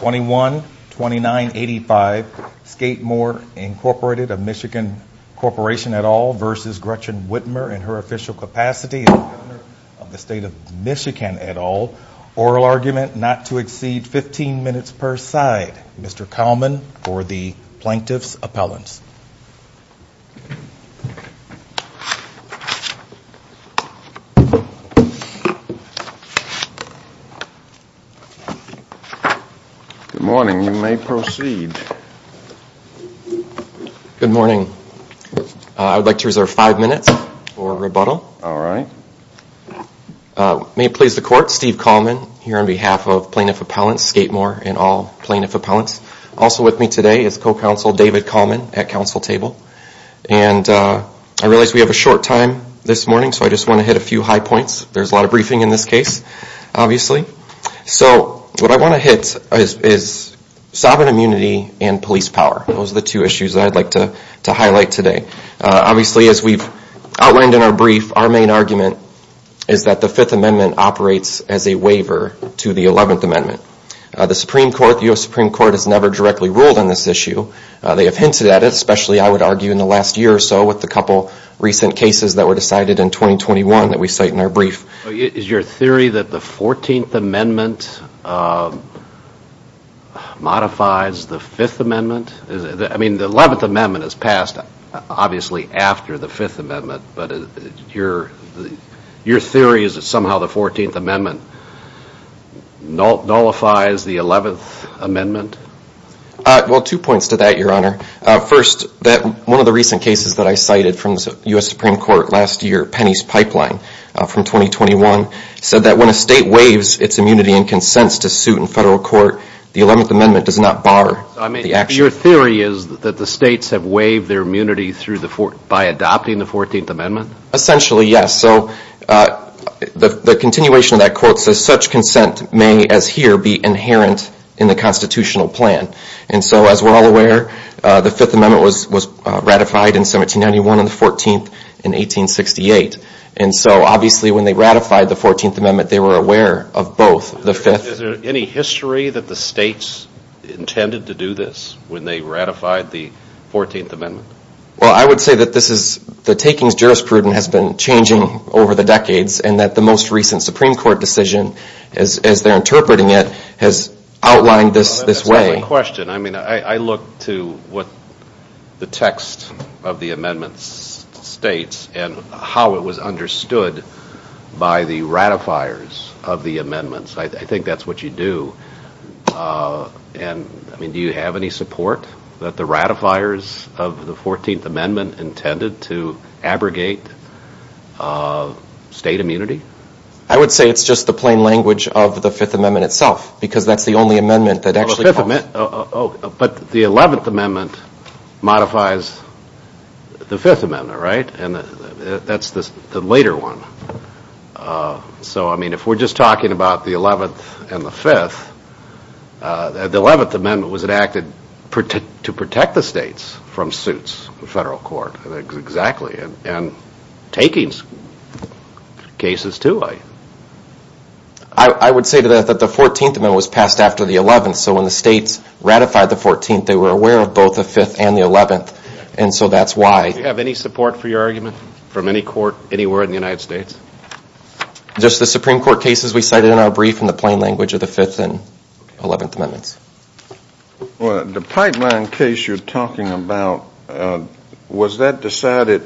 21-2985 Skatemore, Inc. of Michigan Corporation et al. v. Gretchen Whitmer in her official capacity as Governor of the State of Michigan et al. Oral argument not to exceed 15 minutes per side. Mr. Kallman for the Plaintiff's Appellants. Good morning. You may proceed. Good morning. I would like to reserve five minutes for rebuttal. All right. May it please the Court, Steve Kallman here on behalf of Plaintiff's Appellants Skatemore and all Plaintiff's Appellants. Also with me today is Co-Counsel David Kallman at Council Table. And I realize we have a short time this morning so I just want to hit a few high points. There's a lot of briefing in this case, obviously. So what I want to hit is sovereign immunity and police power. Those are the two issues I'd like to highlight today. Obviously as we've outlined in our brief, our main argument is that the Fifth Amendment operates as a waiver to the Eleventh Amendment. The Supreme Court, the U.S. Supreme Court has never directly ruled on this issue. They have hinted at it, especially I would Is your theory that the Fourteenth Amendment modifies the Fifth Amendment? I mean the Eleventh Amendment is passed, obviously, after the Fifth Amendment. But your theory is that somehow the Fourteenth Amendment nullifies the Eleventh Amendment? Well, two points to that, Your Honor. First, that one of the recent cases that I cited from the U.S. Supreme Court last year, Penny's Pipeline from 2021, said that when a state waives its immunity and consents to suit in federal court, the Eleventh Amendment does not bar the action. Your theory is that the states have waived their immunity by adopting the Fourteenth Amendment? Essentially, yes. So the continuation of that quote says such consent may, as here, be inherent in the constitutional plan. And so as we're all aware, the Fifth Amendment was ratified in 1791 and the Fourteenth in 1868. And so, obviously, when they ratified the Fourteenth Amendment, they were aware of both, the Fifth. Is there any history that the states intended to do this when they ratified the Fourteenth Amendment? Well, I would say that this is, the takings jurisprudence has been changing over the decades and that the most recent Supreme Court decision, as they're interpreting it, has outlined this way That's a good question. I mean, I look to what the text of the amendments states and how it was understood by the ratifiers of the amendments. I think that's what you do. And I mean, do you have any support that the ratifiers of the Fourteenth Amendment intended to abrogate state immunity? I would say it's just the plain language of the Fifth Amendment itself, because that's the only amendment that actually But the Eleventh Amendment modifies the Fifth Amendment, right? And that's the later one. So I mean, if we're just talking about the Eleventh and the Fifth, the Eleventh Amendment was enacted to protect the states from suits, the federal court. Exactly. And takings cases too. I would say that the Fourteenth Amendment was passed after the Eleventh. So when the states ratified the Fourteenth, they were aware of both the Fifth and the Eleventh. And so that's why Do you have any support for your argument from any court anywhere in the United States? Just the Supreme Court cases we cited in our brief in the plain language of the Fifth and Eleventh Amendments. The pipeline case you're talking about, was that decided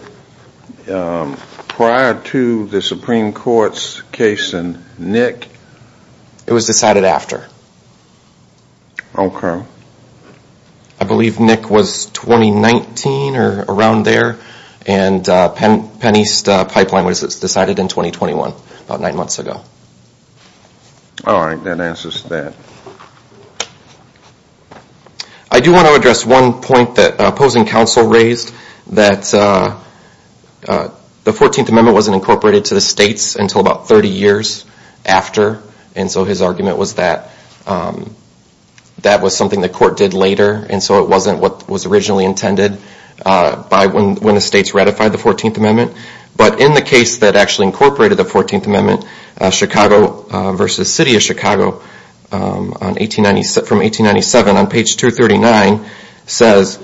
prior to the Supreme Court's case in Nick? It was decided after. Okay. I believe Nick was 2019 or around there, and Penn East Pipeline was decided in 2021, about nine months ago. All right, that answers that. I do want to address one point that opposing counsel raised, that the Fourteenth Amendment wasn't incorporated to the states until about 30 years after. And so his argument was that that was something the court did later, and so it wasn't what was originally intended by when the states ratified the Fourteenth Amendment. But in the case that actually incorporated the Fourteenth Amendment, Chicago v. City of Chicago from 1897 on page 239 says,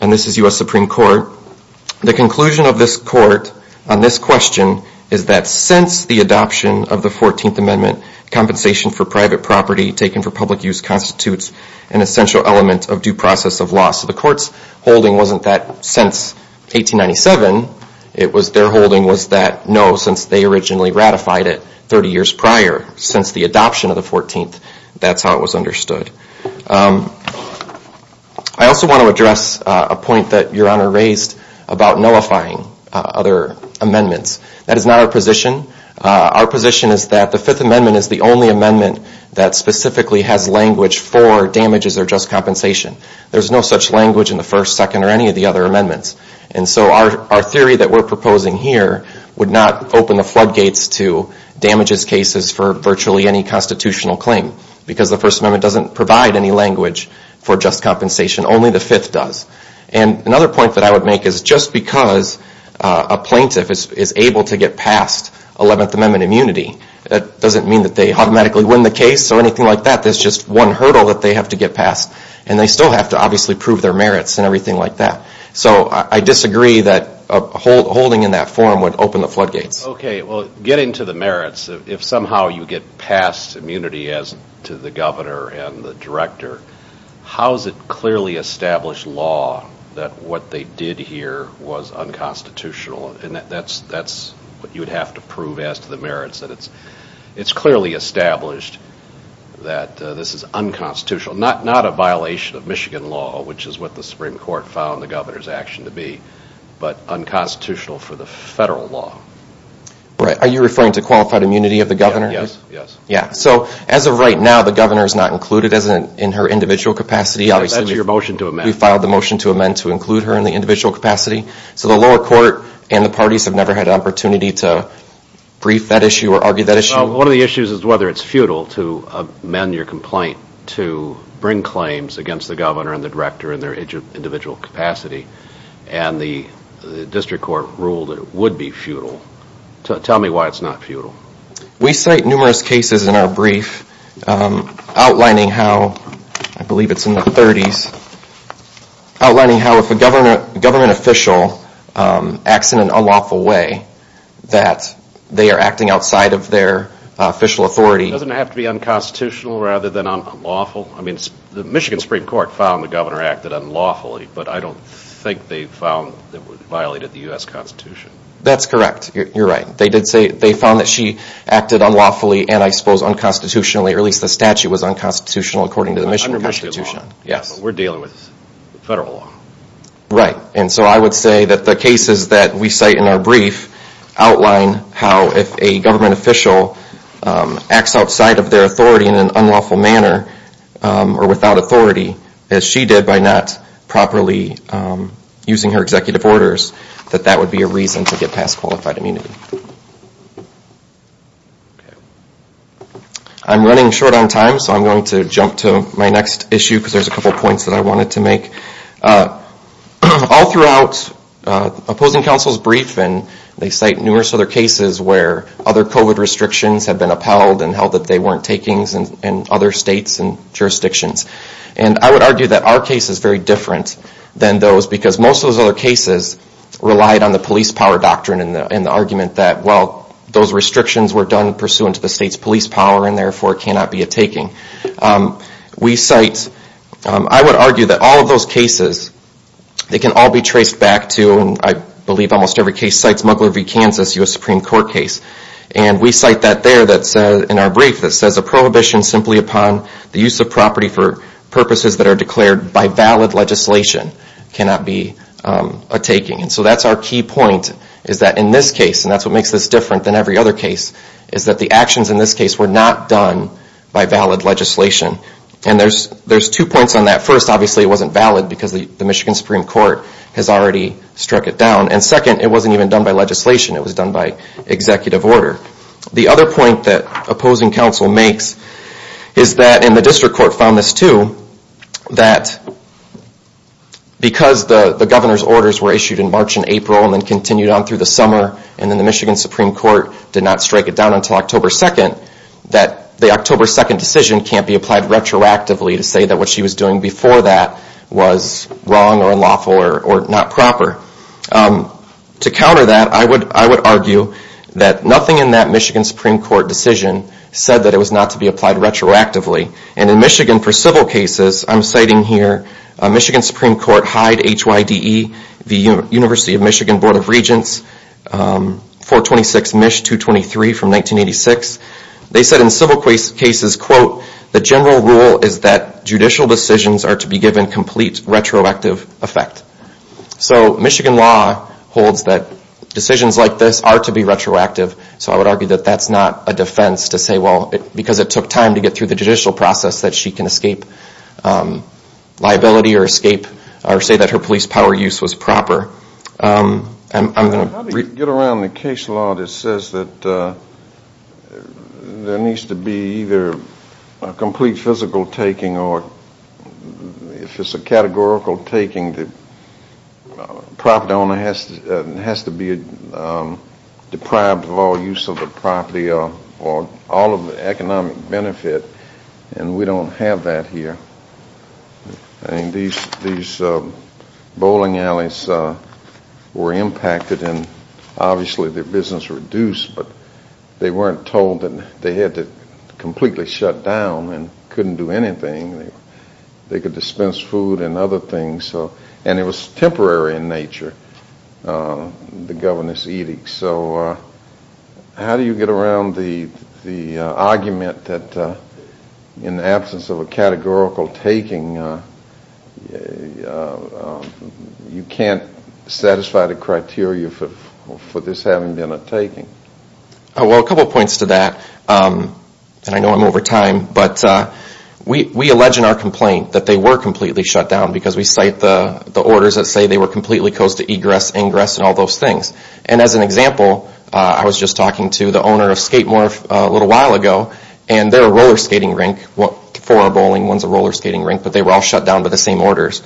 and this is U.S. Supreme Court, the conclusion of this court on this question is that since the adoption of the Fourteenth Amendment, compensation for private property taken for public use constitutes an essential element of due process of law. So the court's holding wasn't that since 1897, it was their holding was that no, since they originally ratified it 30 years prior, since the adoption of the Fourteenth, that's how it was understood. I also want to address a point that Your Honor raised about nullifying other amendments. That is not our position. Our position is that the Fifth Amendment is the only amendment that specifically has language for damages or just compensation. There's no such language in the First, Second, or any of the other amendments. And so our theory that we're proposing here would not open the floodgates to damages cases for virtually any constitutional claim because the First Amendment doesn't provide any language for just compensation. Only the Fifth does. And another point that I would make is just because a plaintiff is able to get past Eleventh Amendment immunity, that doesn't mean that they automatically win the case or anything like that. There's just one hurdle that they have to get past. And they still have to obviously prove their merits and everything like that. So I disagree that a holding in that form would open the floodgates. Okay. Well, getting to the merits, if somehow you get past immunity as to the governor and the director, how is it clearly established law that what they did here was unconstitutional? And that's what you would have to prove as to the merits, that it's clearly established that this is unconstitutional. Not a violation of Michigan law, which is what the Supreme for the federal law. Right. Are you referring to qualified immunity of the governor? Yes. Yes. Yeah. So as of right now, the governor is not included in her individual capacity. That's your motion to amend. We filed the motion to amend to include her in the individual capacity. So the lower court and the parties have never had an opportunity to brief that issue or argue that issue. Well, one of the issues is whether it's futile to amend your complaint to bring claims against the governor and the director in their individual capacity and the district court ruled it would be futile. Tell me why it's not futile. We cite numerous cases in our brief outlining how, I believe it's in the 30s, outlining how if a government official acts in an unlawful way, that they are acting outside of their official authority. Doesn't it have to be unconstitutional rather than unlawful? I mean, the Michigan Supreme Court found the governor acted unlawfully, but I don't think they found that it violated the U.S. Constitution. That's correct. You're right. They did say, they found that she acted unlawfully and I suppose unconstitutionally, or at least the statute was unconstitutional according to the Michigan Constitution. Yes. We're dealing with federal law. Right. And so I would say that the cases that we cite in our brief outline how if a government official acts outside of their authority in an unlawful manner or without authority, as she did by not properly using her executive orders, that that would be a reason to get past qualified immunity. I'm running short on time, so I'm going to jump to my next issue because there's a couple of points that I wanted to make. All throughout opposing counsel's brief, and they cite numerous other cases where other COVID restrictions have been upheld and held that they weren't takings in other states and jurisdictions. And I would argue that our case is very different than those because most of those other cases relied on the police power doctrine and the argument that, well, those restrictions were done pursuant to the state's police power and therefore it cannot be a taking. We cite, I would argue that all of those cases, they can all be traced back to, and I believe almost every case cites Muggler v. Kansas, a U.S. Supreme Court case. And we cite that there in our brief that says a prohibition simply upon the use of property for purposes that are declared by valid legislation cannot be a taking. So that's our key point is that in this case, and that's what makes this different than every other case, is that the actions in this case were not done by valid legislation. And there's two points on that. First, obviously it wasn't valid because the Michigan Supreme Court has already struck it down. And second, it wasn't even done by legislation. It was done by executive order. The other point that opposing counsel makes is that, and the district court found this too, that because the governor's orders were issued in March and April and then continued on through the summer and then the Michigan Supreme Court did not strike it down until October 2nd, that the October 2nd decision can't be applied retroactively to say that what she was doing before that was wrong or unlawful or not proper. To counter that, I would argue that nothing in that Michigan Supreme Court decision said that it was not to be applied retroactively. And in Michigan for civil cases, I'm citing here Michigan Supreme Court Hyde, H-Y-D-E, the University of Michigan Board of Regents, 426 MISH 223 from 1986. They said in civil cases, quote, the general rule is that judicial decisions are to be given complete retroactive effect. So Michigan law holds that decisions like this are to be retroactive. So I would argue that that's not a defense to say, well, because it took time to get through the judicial process that she can escape liability or escape or say that her police power use was proper. I'm going to get around the case law that says that there needs to be either a complete physical taking or if it's a categorical taking, the property owner has to be deprived of all use of the property or all of the economic benefit and we don't have that here. These bowling alleys were impacted and obviously their business reduced but they weren't told that they had to completely shut down and couldn't do anything. They could dispense food and other things and it was temporary in nature, the governor's edict. So how do you get around the argument that in the absence of a categorical taking, you can't satisfy the criteria for this having been a taking? Well, a couple of points to that and I know I'm over time but we allege in our complaint that they were completely shut down because we cite the orders that say they were completely closed to egress, ingress and all those things. As an example, I was just talking to the owner of Skatemore a little while ago and they're a roller skating rink, four are bowling, one's a roller skating rink but they were all shut down by the same orders.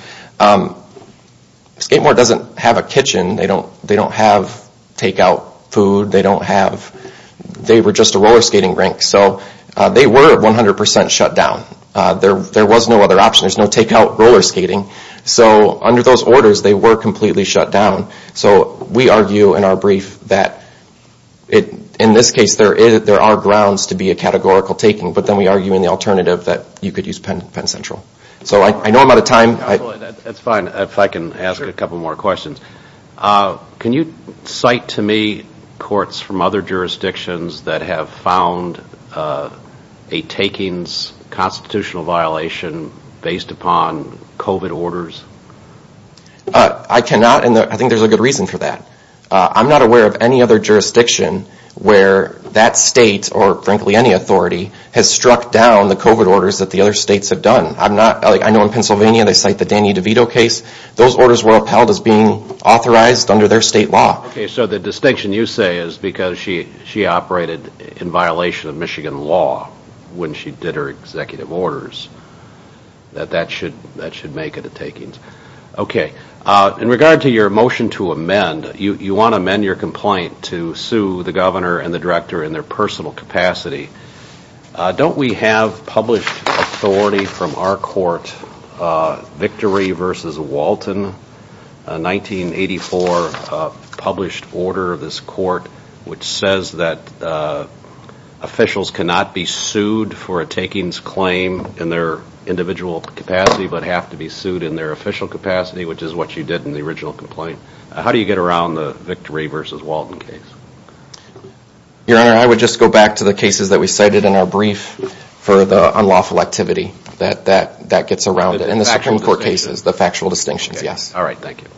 Skatemore doesn't have a kitchen, they don't have takeout food, they were just a roller skating rink so they were 100% shut down. There was no other option. There's no takeout roller skating so under those orders, they were completely shut down so we argue in our brief that in this case, there are grounds to be a categorical taking but then we argue in the alternative that you could use Penn Central. So I know I'm out of time. That's fine. If I can ask a couple more questions. Can you cite to me courts from other jurisdictions that have found a takings constitutional violation based upon COVID orders? I cannot and I think there's a good reason for that. I'm not aware of any other jurisdiction where that state or frankly any authority has struck down the COVID orders that the other states have done. I know in Pennsylvania, they cite the Danny DeVito case. Those orders were upheld as being authorized under their state law. So the distinction you say is because she operated in violation of Michigan law when she did her executive orders that that should make it a takings. In regard to your motion to amend, you want to amend your complaint to sue the governor and the director in their personal capacity. Don't we have published authority from our court, Victory v. Walton, a 1984 published order of this court, which says that officials cannot be sued for a takings claim in their individual capacity, but have to be sued in their official capacity, which is what you did in the original complaint. How do you get around the Victory v. Walton case? Your Honor, I would just go back to the cases that we cited in our brief for the unlawful activity that gets around in the Supreme Court cases. The factual distinctions. Yes. All right. Thank you.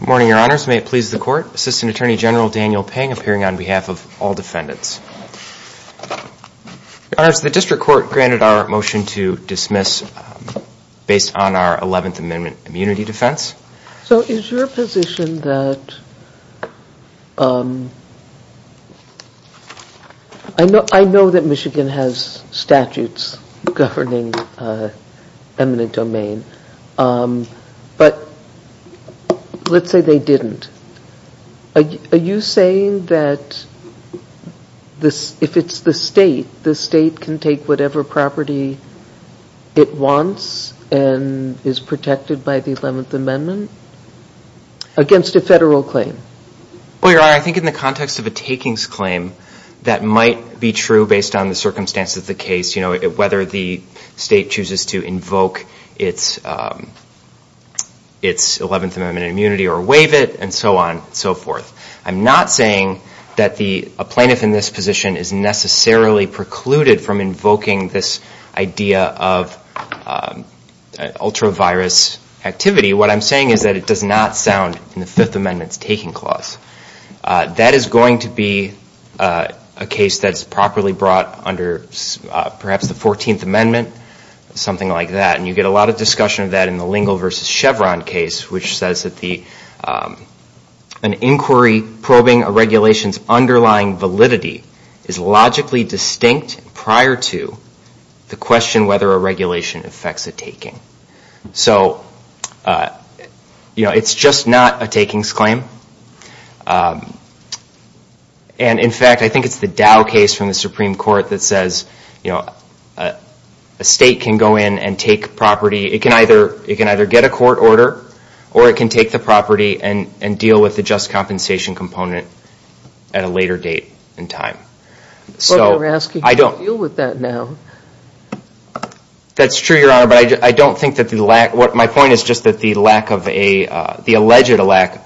Good morning, Your Honors. May it please the court. Assistant Attorney General Daniel Payne appearing on behalf of all defendants. Your Honors, the district court granted our motion to dismiss based on our 11th Amendment immunity defense. So is your position that, I know that Michigan has statutes governing eminent domain, but let's say they didn't, are you saying that if it's the state, the state can take whatever property it wants and is protected by the 11th Amendment against a federal claim? Well, Your Honor, I think in the context of a takings claim, that might be true based on the circumstances of the case, whether the state chooses to invoke its 11th Amendment immunity or waive it and so on and so forth. I'm not saying that a plaintiff in this position is necessarily precluded from invoking this idea of ultra-virus activity. What I'm saying is that it does not sound in the Fifth Amendment's taking clause. That is going to be a case that's properly brought under perhaps the 14th Amendment, something like that. And you get a lot of discussion of that in the Lingle versus Chevron case, which says that an inquiry probing a regulation's underlying validity is logically distinct prior to the question whether a regulation affects a taking. So it's just not a takings claim. And in fact, I think it's the Dow case from the Supreme Court that says a state can go take the property and deal with the just compensation component at a later date and time. But we're asking how you feel with that now. That's true, Your Honor, but I don't think that the lack... My point is just that the alleged lack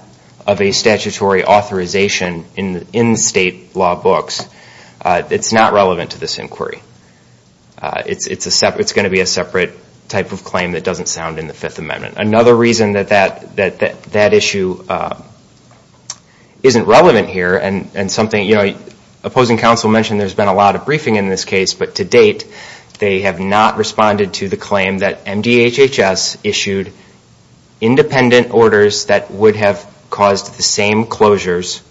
of a statutory authorization in state law books, it's not relevant to this inquiry. It's going to be a separate type of claim that doesn't sound in the Fifth Amendment. Another reason that that issue isn't relevant here, and opposing counsel mentioned there's been a lot of briefing in this case, but to date they have not responded to the claim that MDHHS issued independent orders that would have caused the same closures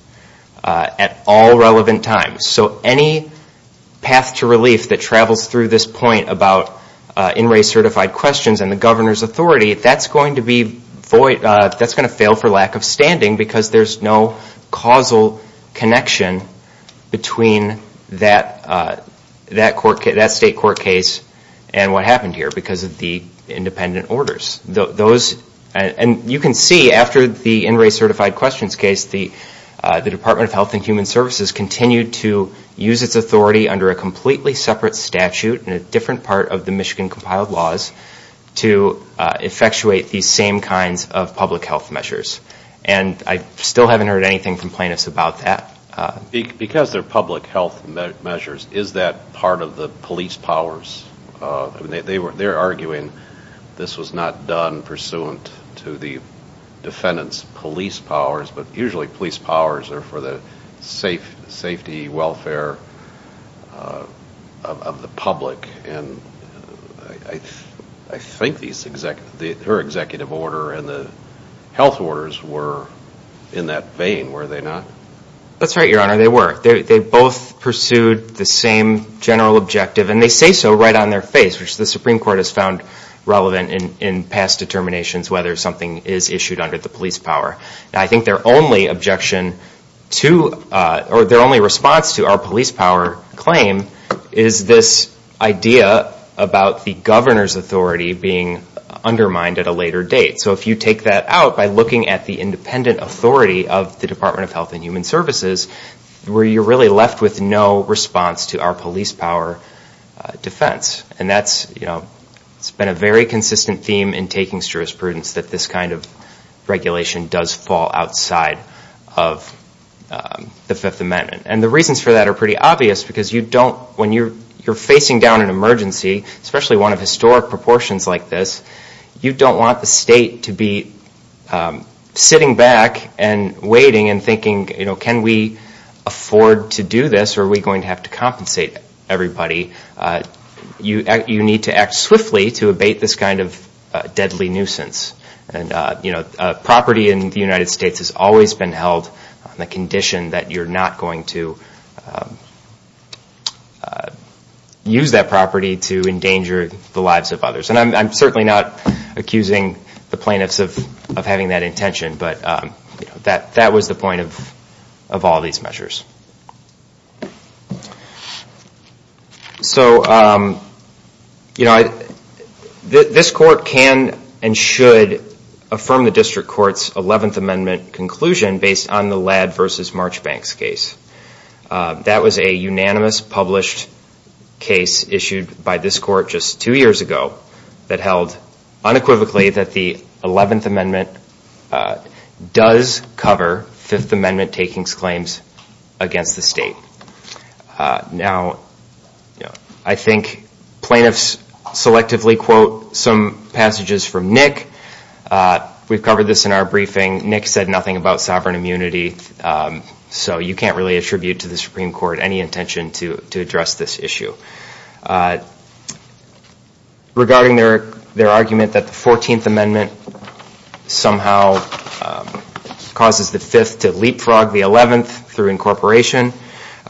at all relevant times. So any path to relief that travels through this point about in-race certified questions and the governor's authority, that's going to fail for lack of standing because there's no causal connection between that state court case and what happened here because of the independent orders. And you can see after the in-race certified questions case, the Department of Health and Human Services continued to use its authority under a completely separate statute in a different part of the Michigan compiled laws to effectuate these same kinds of public health measures. And I still haven't heard anything from plaintiffs about that. Because they're public health measures, is that part of the police powers? They're arguing this was not done pursuant to the defendant's police powers, but usually police powers are for the safety, welfare of the public and I think their executive order and the health orders were in that vein, were they not? That's right, your honor, they were. They both pursued the same general objective and they say so right on their face, which the Supreme Court has found relevant in past determinations whether something is issued under the police power. I think their only objection to or their only response to our police power claim is this idea about the governor's authority being undermined at a later date. So if you take that out by looking at the independent authority of the Department of Health and Human Services, you're really left with no response to our police power defense. And that's been a very consistent theme in taking jurisprudence that this kind of regulation does fall outside of the Fifth Amendment. And the reasons for that are pretty obvious because you don't, when you're facing down an emergency, especially one of historic proportions like this, you don't want the state to be sitting back and waiting and thinking, you know, can we afford to do this or are we going to have to compensate everybody? You need to act swiftly to abate this kind of deadly nuisance. And, you know, property in the United States has always been held on the condition that you're not going to use that property to endanger the lives of others. And I'm certainly not accusing the plaintiffs of having that intention, but that was the point of all these measures. So, you know, this court can and should affirm the district court's Eleventh Amendment conclusion based on the Ladd v. Marchbank's case. That was a unanimous published case issued by this court just two years ago that held unequivocally that the Eleventh Amendment does cover Fifth Amendment takings claims against the state. Now, I think plaintiffs selectively quote some passages from Nick. We've covered this in our briefing. Nick said nothing about sovereign immunity, so you can't really attribute to the Supreme Court any intention to address this issue. Regarding their argument that the Fourteenth Amendment somehow causes the Fifth to leapfrog the Eleventh through incorporation,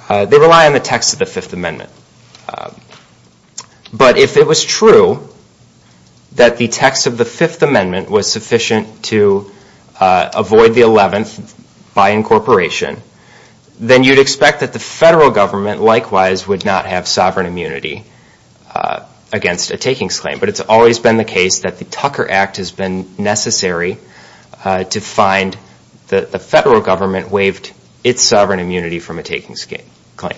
they rely on the text of the Fifth Amendment. But if it was true that the text of the Fifth Amendment was sufficient to avoid the Eleventh by incorporation, then you'd expect that the federal government likewise would not have sovereign immunity against a takings claim. But it's always been the case that the Tucker Act has been necessary to find the federal government waived its sovereign immunity from a takings claim.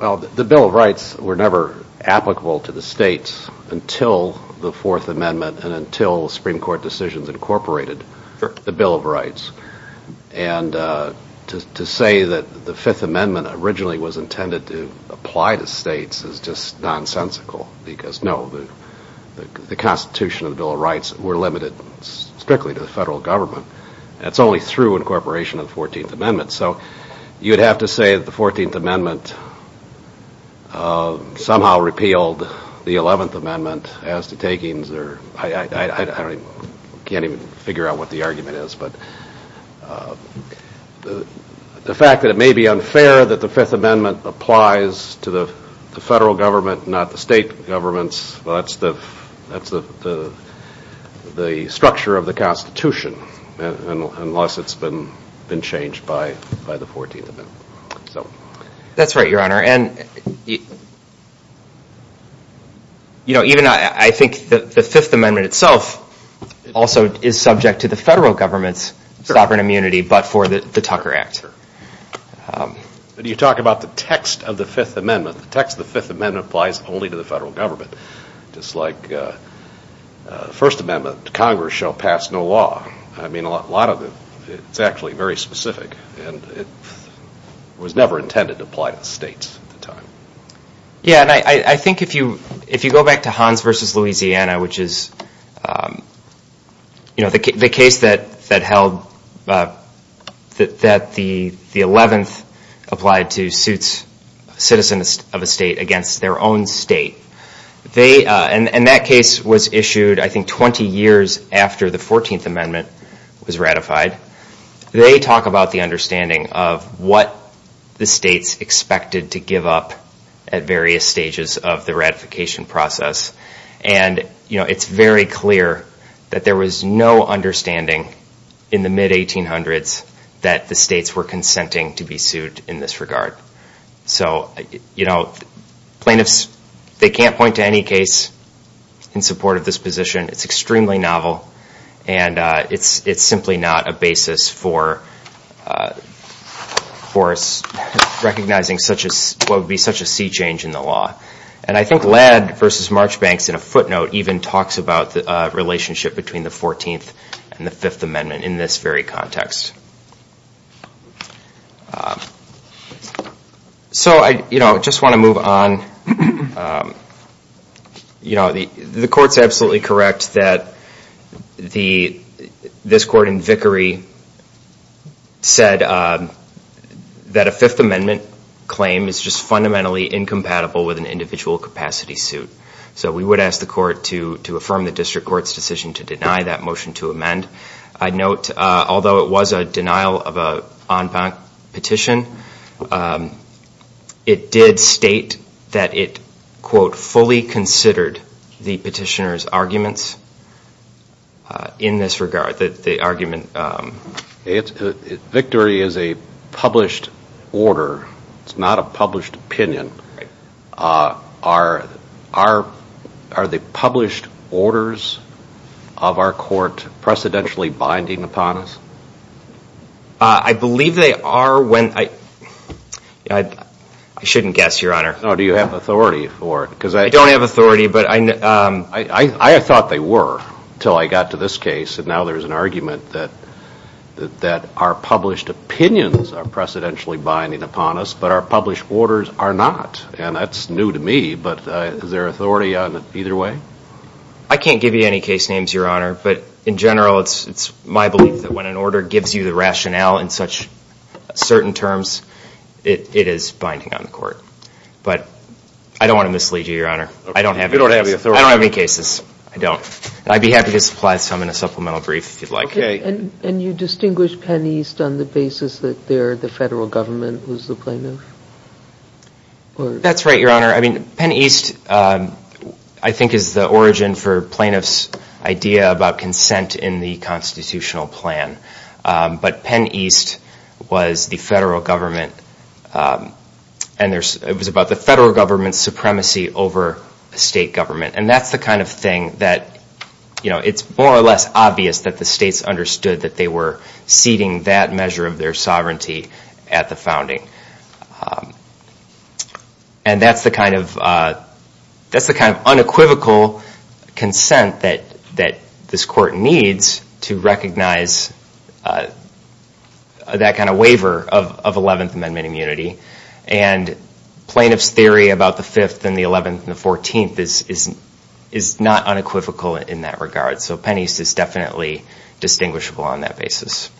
The Bill of Rights were never applicable to the states until the Fourth Amendment and until Supreme Court decisions incorporated the Bill of Rights. To say that the Fifth Amendment originally was intended to apply to states is just nonsensical because, no, the Constitution and the Bill of Rights were limited strictly to the federal government. That's only through incorporation of the Fourteenth Amendment. So you'd have to say that the Fourteenth Amendment somehow repealed the Eleventh Amendment as to takings or I can't even figure out what the argument is. The fact that it may be unfair that the Fifth Amendment applies to the federal government not the state governments, that's the structure of the Constitution unless it's been changed by the Fourteenth Amendment. That's right, Your Honor. Even I think the Fifth Amendment itself also is subject to the federal government's sovereign immunity but for the Tucker Act. But you talk about the text of the Fifth Amendment, the text of the Fifth Amendment applies only to the federal government just like the First Amendment, Congress shall pass no law. I mean a lot of it, it's actually very specific and it was never intended to apply to states at the time. Yeah, and I think if you go back to Hans v. Louisiana which is the case that held that the Eleventh applied to citizens of a state against their own state and that case was issued I think 20 years after the Fourteenth Amendment was ratified. They talk about the understanding of what the states expected to give up at various stages of the ratification process and it's very clear that there was no understanding in the mid-1800s that the states were consenting to be sued in this regard. So plaintiffs, they can't point to any case in support of this position. It's extremely novel and it's simply not a basis for us recognizing what would be such a sea change in the law. And I think Ladd v. Marchbanks in a footnote even talks about the relationship between the Fourteenth and the Fifth Amendment in this very context. So I just want to move on. The court's absolutely correct that this court in Vickery said that a Fifth Amendment claim is just fundamentally incompatible with an individual capacity suit. So we would ask the court to affirm the district court's decision to deny that motion to amend. I note although it was a denial of an en banc petition, it did state that it, quote, fully considered the petitioner's arguments in this regard. Victory is a published order. It's not a published opinion. Are the published orders of our court precedentially binding upon us? I believe they are when I, I shouldn't guess, Your Honor. No, do you have authority for it? I don't have authority, but I, I thought they were until I got to this case and now there's an argument that, that our published opinions are precedentially binding upon us, but our published orders are not. And that's new to me, but is there authority on it either way? I can't give you any case names, Your Honor, but in general it's, it's my belief that when an order gives you the rationale in such certain terms, it, it is binding on the court. But I don't want to mislead you, Your Honor. I don't have any cases. You don't have the authority. I don't have any cases. I don't. I'd be happy to supply some in a supplemental brief if you'd like. And you distinguish Penn East on the basis that they're the federal government, who's the plaintiff? That's right, Your Honor. I mean, Penn East, I think is the origin for plaintiff's idea about consent in the constitutional plan. But Penn East was the federal government and there's, it was about the federal government's supremacy over the state government. And that's the kind of thing that, you know, it's more or less obvious that the states understood that they were ceding that measure of their sovereignty at the founding. And that's the kind of, that's the kind of unequivocal consent that, that this court needs to recognize that kind of waiver of, of 11th Amendment immunity. And plaintiff's theory about the 5th and the 11th and the 14th is, is, is not unequivocal in that regard. So Penn East is definitely distinguishable on that basis.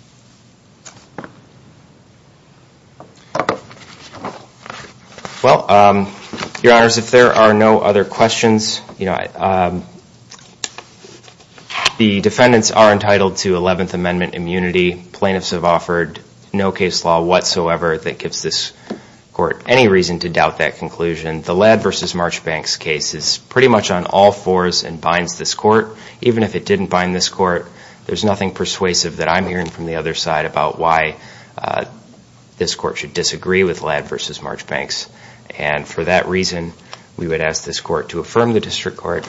Well, Your Honors, if there are no other questions, you know, the defendants are entitled to 11th Amendment immunity. Plaintiffs have offered no case law whatsoever that gives this court any reason to doubt that conclusion. The Ladd v. Marchbanks case is pretty much on all fours and binds this court. Even if it didn't bind this court, there's nothing persuasive that I'm hearing from the other side about why this court should disagree with Ladd v. Marchbanks. And for that reason, we would ask this court to affirm the district court,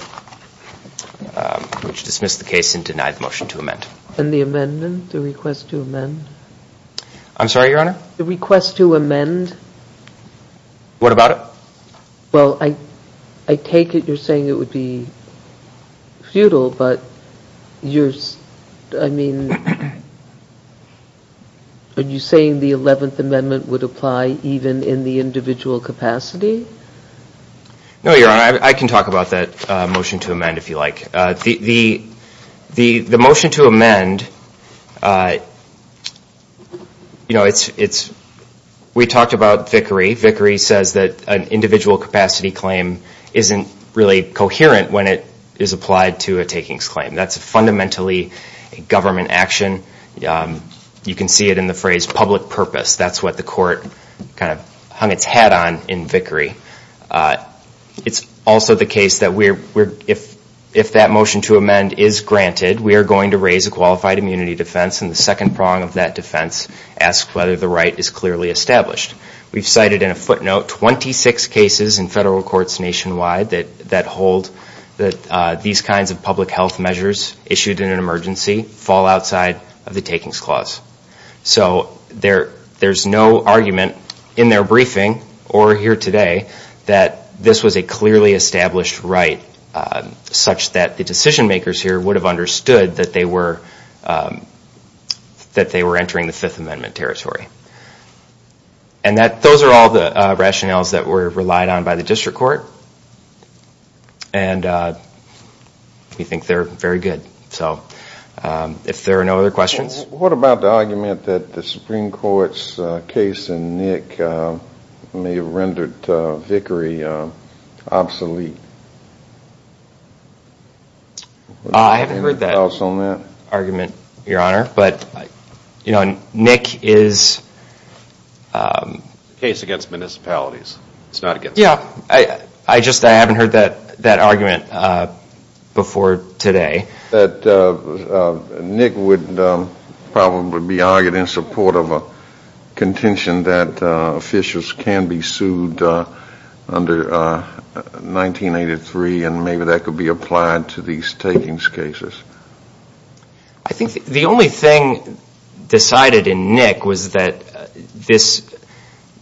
which dismissed the case and denied the motion to amend. And the amendment, the request to amend? I'm sorry, Your Honor? The request to amend? What about it? Well, I, I take it you're saying it would be futile, but you're, I mean, are you saying the 11th Amendment would apply even in the individual capacity? No, Your Honor, I can talk about that motion to amend if you like. The, the, the motion to amend, you know, it's, it's, we talked about Vickery, Vickery says that an individual capacity claim isn't really coherent when it is applied to a takings claim. That's fundamentally a government action. You can see it in the phrase public purpose. That's what the court kind of hung its hat on in Vickery. It's also the case that we're, we're, if, if that motion to amend is granted, we are going to raise a qualified immunity defense and the second prong of that defense asks whether the right is clearly established. We've cited in a footnote 26 cases in federal courts nationwide that, that hold that these kinds of public health measures issued in an emergency fall outside of the takings clause. So there, there's no argument in their briefing or here today that this was a clearly established right such that the decision makers here would have understood that they were, that they were entering the Fifth Amendment territory. And that, those are all the rationales that were relied on by the district court. And we think they're very good. So if there are no other questions. What about the argument that the Supreme Court's case in Nick may have rendered Vickery obsolete? I haven't heard that argument, Your Honor, but, you know, Nick is. Case against municipalities. It's not against. Yeah. I, I just, I haven't heard that, that argument before today. That Nick would probably be argued in support of a contention that officials can be sued under 1983 and maybe that could be applied to these takings cases. I think the only thing decided in Nick was that this,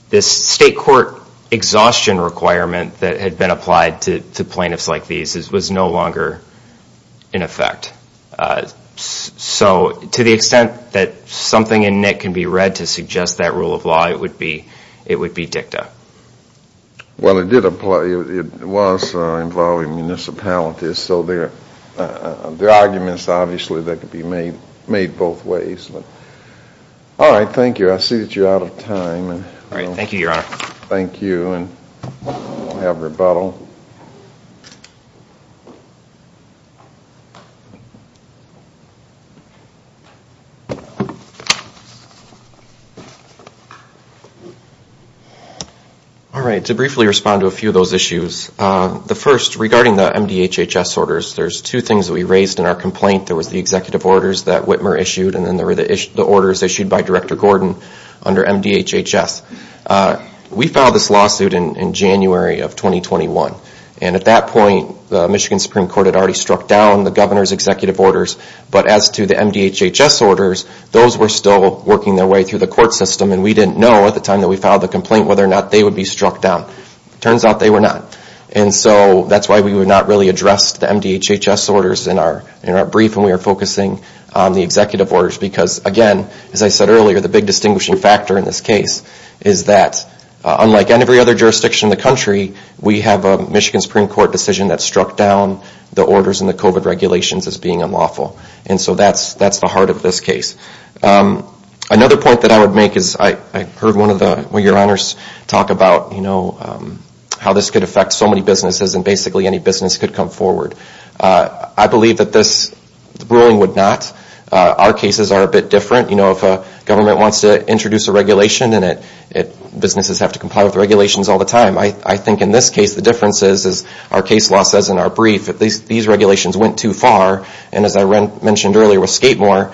this state court exhaustion requirement that had been applied to plaintiffs like these was no longer in effect. So to the extent that something in Nick can be read to suggest that rule of law, it would be, it would be dicta. Well, it did apply, it was involving municipalities. So there, there are arguments, obviously, that could be made, made both ways, but. All right. Thank you. I see that you're out of time. All right. Thank you, Your Honor. Thank you. Thank you. Thank you. Thank you. And we'll have rebuttal. All right. To briefly respond to a few of those issues. The first, regarding the MDHHS orders, there's two things that we raised in our complaint. There was the executive orders that Whitmer issued and then there were the orders issued by Director Gordon under MDHHS. We filed this lawsuit in January of 2021. And at that point, the Michigan Supreme Court had already struck down the governor's executive orders. But as to the MDHHS orders, those were still working their way through the court system and we didn't know at the time that we filed the complaint whether or not they would be struck down. It turns out they were not. And so that's why we would not really address the MDHHS orders in our, in our brief and we are focusing on the executive orders because, again, as I said earlier, the big distinguishing factor in this case is that unlike every other jurisdiction in the country, we have a Michigan Supreme Court decision that struck down the orders and the COVID regulations as being unlawful. And so that's, that's the heart of this case. Another point that I would make is I heard one of the, one of your honors talk about, you know, how this could affect so many businesses and basically any business could come forward. I believe that this ruling would not. Our cases are a bit different. You know, if a government wants to introduce a regulation and it, it, businesses have to comply with regulations all the time. I think in this case the difference is, is our case law says in our brief that these regulations went too far and as I mentioned earlier with Skatemore,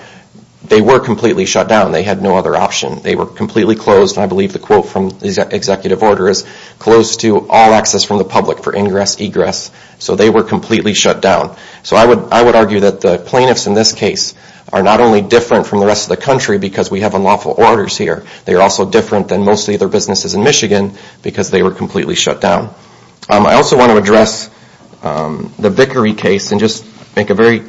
they were completely shut down. They had no other option. They were completely closed and I believe the quote from the executive order is, close to all access from the public for ingress, egress. So they were completely shut down. So I would, I would argue that the plaintiffs in this case are not only different from the rest of the country because we have unlawful orders here, they are also different than most of the other businesses in Michigan because they were completely shut down. I also want to address the Vickery case and just make a very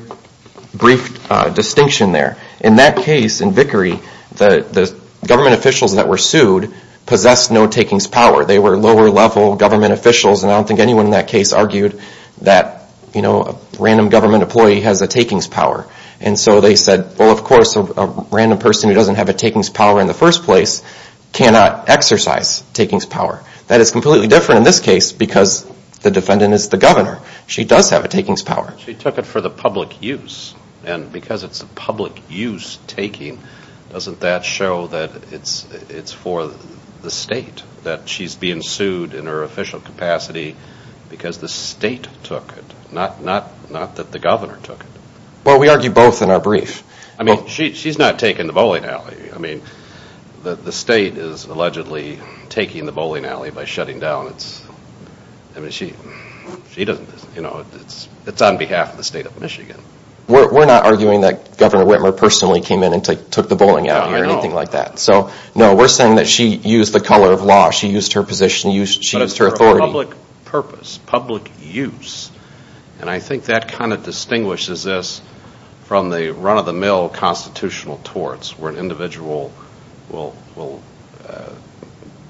brief distinction there. In that case in Vickery, the, the government officials that were sued possessed no takings power. They were lower level government officials and I don't think anyone in that case argued that, you know, a random government employee has a takings power. And so they said, well, of course, a random person who doesn't have a takings power in the first place cannot exercise takings power. That is completely different in this case because the defendant is the governor. She does have a takings power. She took it for the public use and because it's a public use taking, doesn't that show that it's, it's for the state that she's being sued in her official capacity because the state took it, not, not, not that the governor took it. Well, we argue both in our brief. I mean, she, she's not taking the bowling alley. I mean, the, the state is allegedly taking the bowling alley by shutting down. It's, I mean, she, she doesn't, you know, it's, it's on behalf of the state of Michigan. We're not arguing that Governor Whitmer personally came in and took the bowling alley or anything like that. So, no, we're saying that she used the color of law. She used her position. She used her authority. But it's for a public purpose, public use. And I think that kind of distinguishes this from the run-of-the-mill constitutional torts where an individual will, will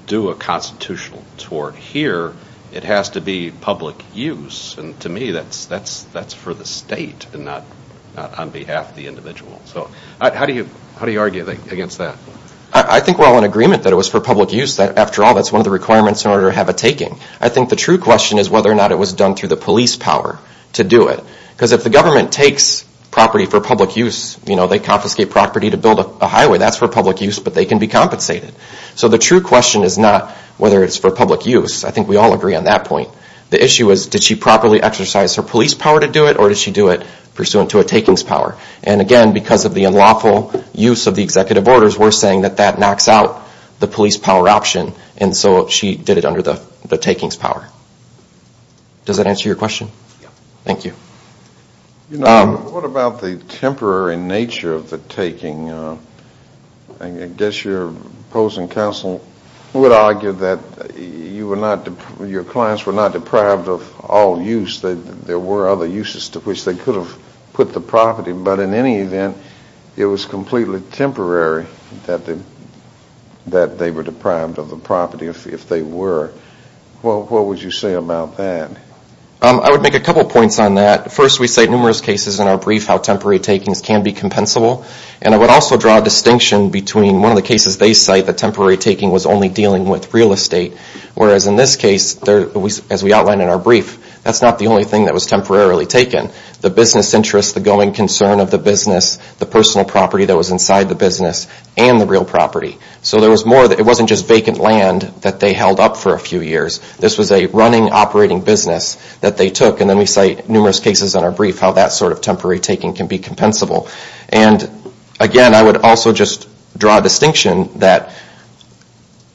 do a constitutional tort here. It has to be public use and to me, that's, that's, that's for the state and not, not on behalf of the individual. So how do you, how do you argue against that? I think we're all in agreement that it was for public use. After all, that's one of the requirements in order to have a taking. I think the true question is whether or not it was done through the police power to do it. Because if the government takes property for public use, you know, they confiscate property to build a highway, that's for public use, but they can be compensated. So the true question is not whether it's for public use. I think we all agree on that point. The issue is, did she properly exercise her police power to do it or did she do it pursuant to a takings power? And again, because of the unlawful use of the executive orders, we're saying that that knocks out the police power option. And so she did it under the takings power. Does that answer your question? Yeah. Thank you. You know, what about the temporary nature of the taking? I guess your opposing counsel would argue that you were not, your clients were not deprived of all use. There were other uses to which they could have put the property, but in any event, it was completely temporary that they were deprived of the property if they were. What would you say about that? I would make a couple of points on that. First, we cite numerous cases in our brief how temporary takings can be compensable. And I would also draw a distinction between one of the cases they cite, the temporary taking was only dealing with real estate, whereas in this case, as we outlined in our brief, that's not the only thing that was temporarily taken. The business interest, the going concern of the business, the personal property that was inside the business, and the real property. So there was more, it wasn't just vacant land that they held up for a few years. This was a running, operating business that they took, and then we cite numerous cases in our brief how that sort of temporary taking can be compensable. And again, I would also just draw a distinction that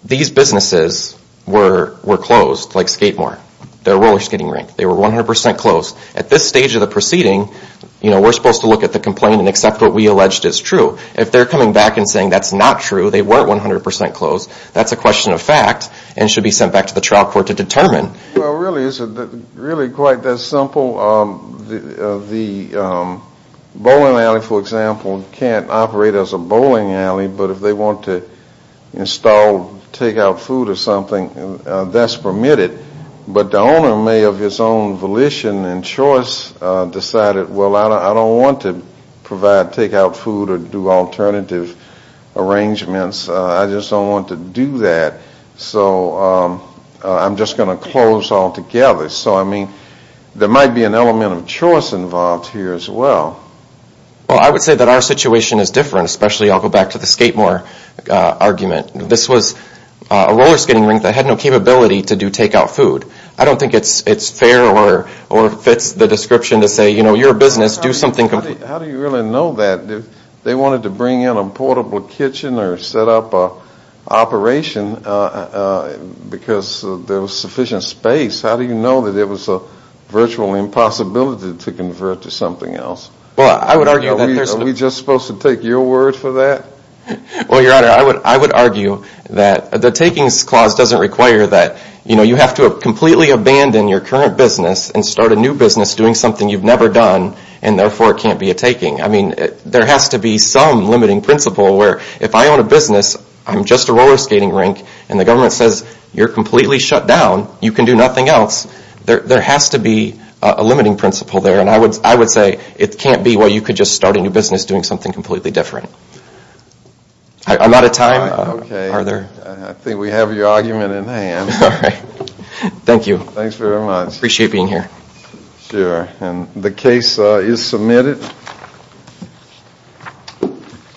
these businesses were closed, like Skatemore, their roller skating rink. They were 100% closed. At this stage of the proceeding, you know, we're supposed to look at the complaint and accept what we alleged is true. If they're coming back and saying that's not true, they weren't 100% closed, that's a question of fact and should be sent back to the trial court to determine. Well, really, it's really quite that simple. The bowling alley, for example, can't operate as a bowling alley, but if they want to install takeout food or something, that's permitted. But the owner may, of his own volition and choice, decided, well, I don't want to provide takeout food or do alternative arrangements, I just don't want to do that, so I'm just going to close altogether. So I mean, there might be an element of choice involved here as well. Well, I would say that our situation is different, especially, I'll go back to the Skatemore argument. This was a roller skating rink that had no capability to do takeout food. I don't think it's fair or fits the description to say, you know, you're a business, do something complete. How do you really know that? They wanted to bring in a portable kitchen or set up an operation because there was sufficient space. How do you know that it was a virtual impossibility to convert to something else? Well, I would argue that there's no... Are we just supposed to take your word for that? Well, Your Honor, I would argue that the takings clause doesn't require that, you know, you have to completely abandon your current business and start a new business doing something you've never done and therefore it can't be a taking. I mean, there has to be some limiting principle where if I own a business, I'm just a roller skating rink, and the government says, you're completely shut down, you can do nothing else, there has to be a limiting principle there. And I would say it can't be where you could just start a new business doing something completely different. I'm out of time. Okay. Are there... I think we have your argument in hand. All right. Thank you. Thanks very much. Appreciate being here. Sure. And the case is submitted.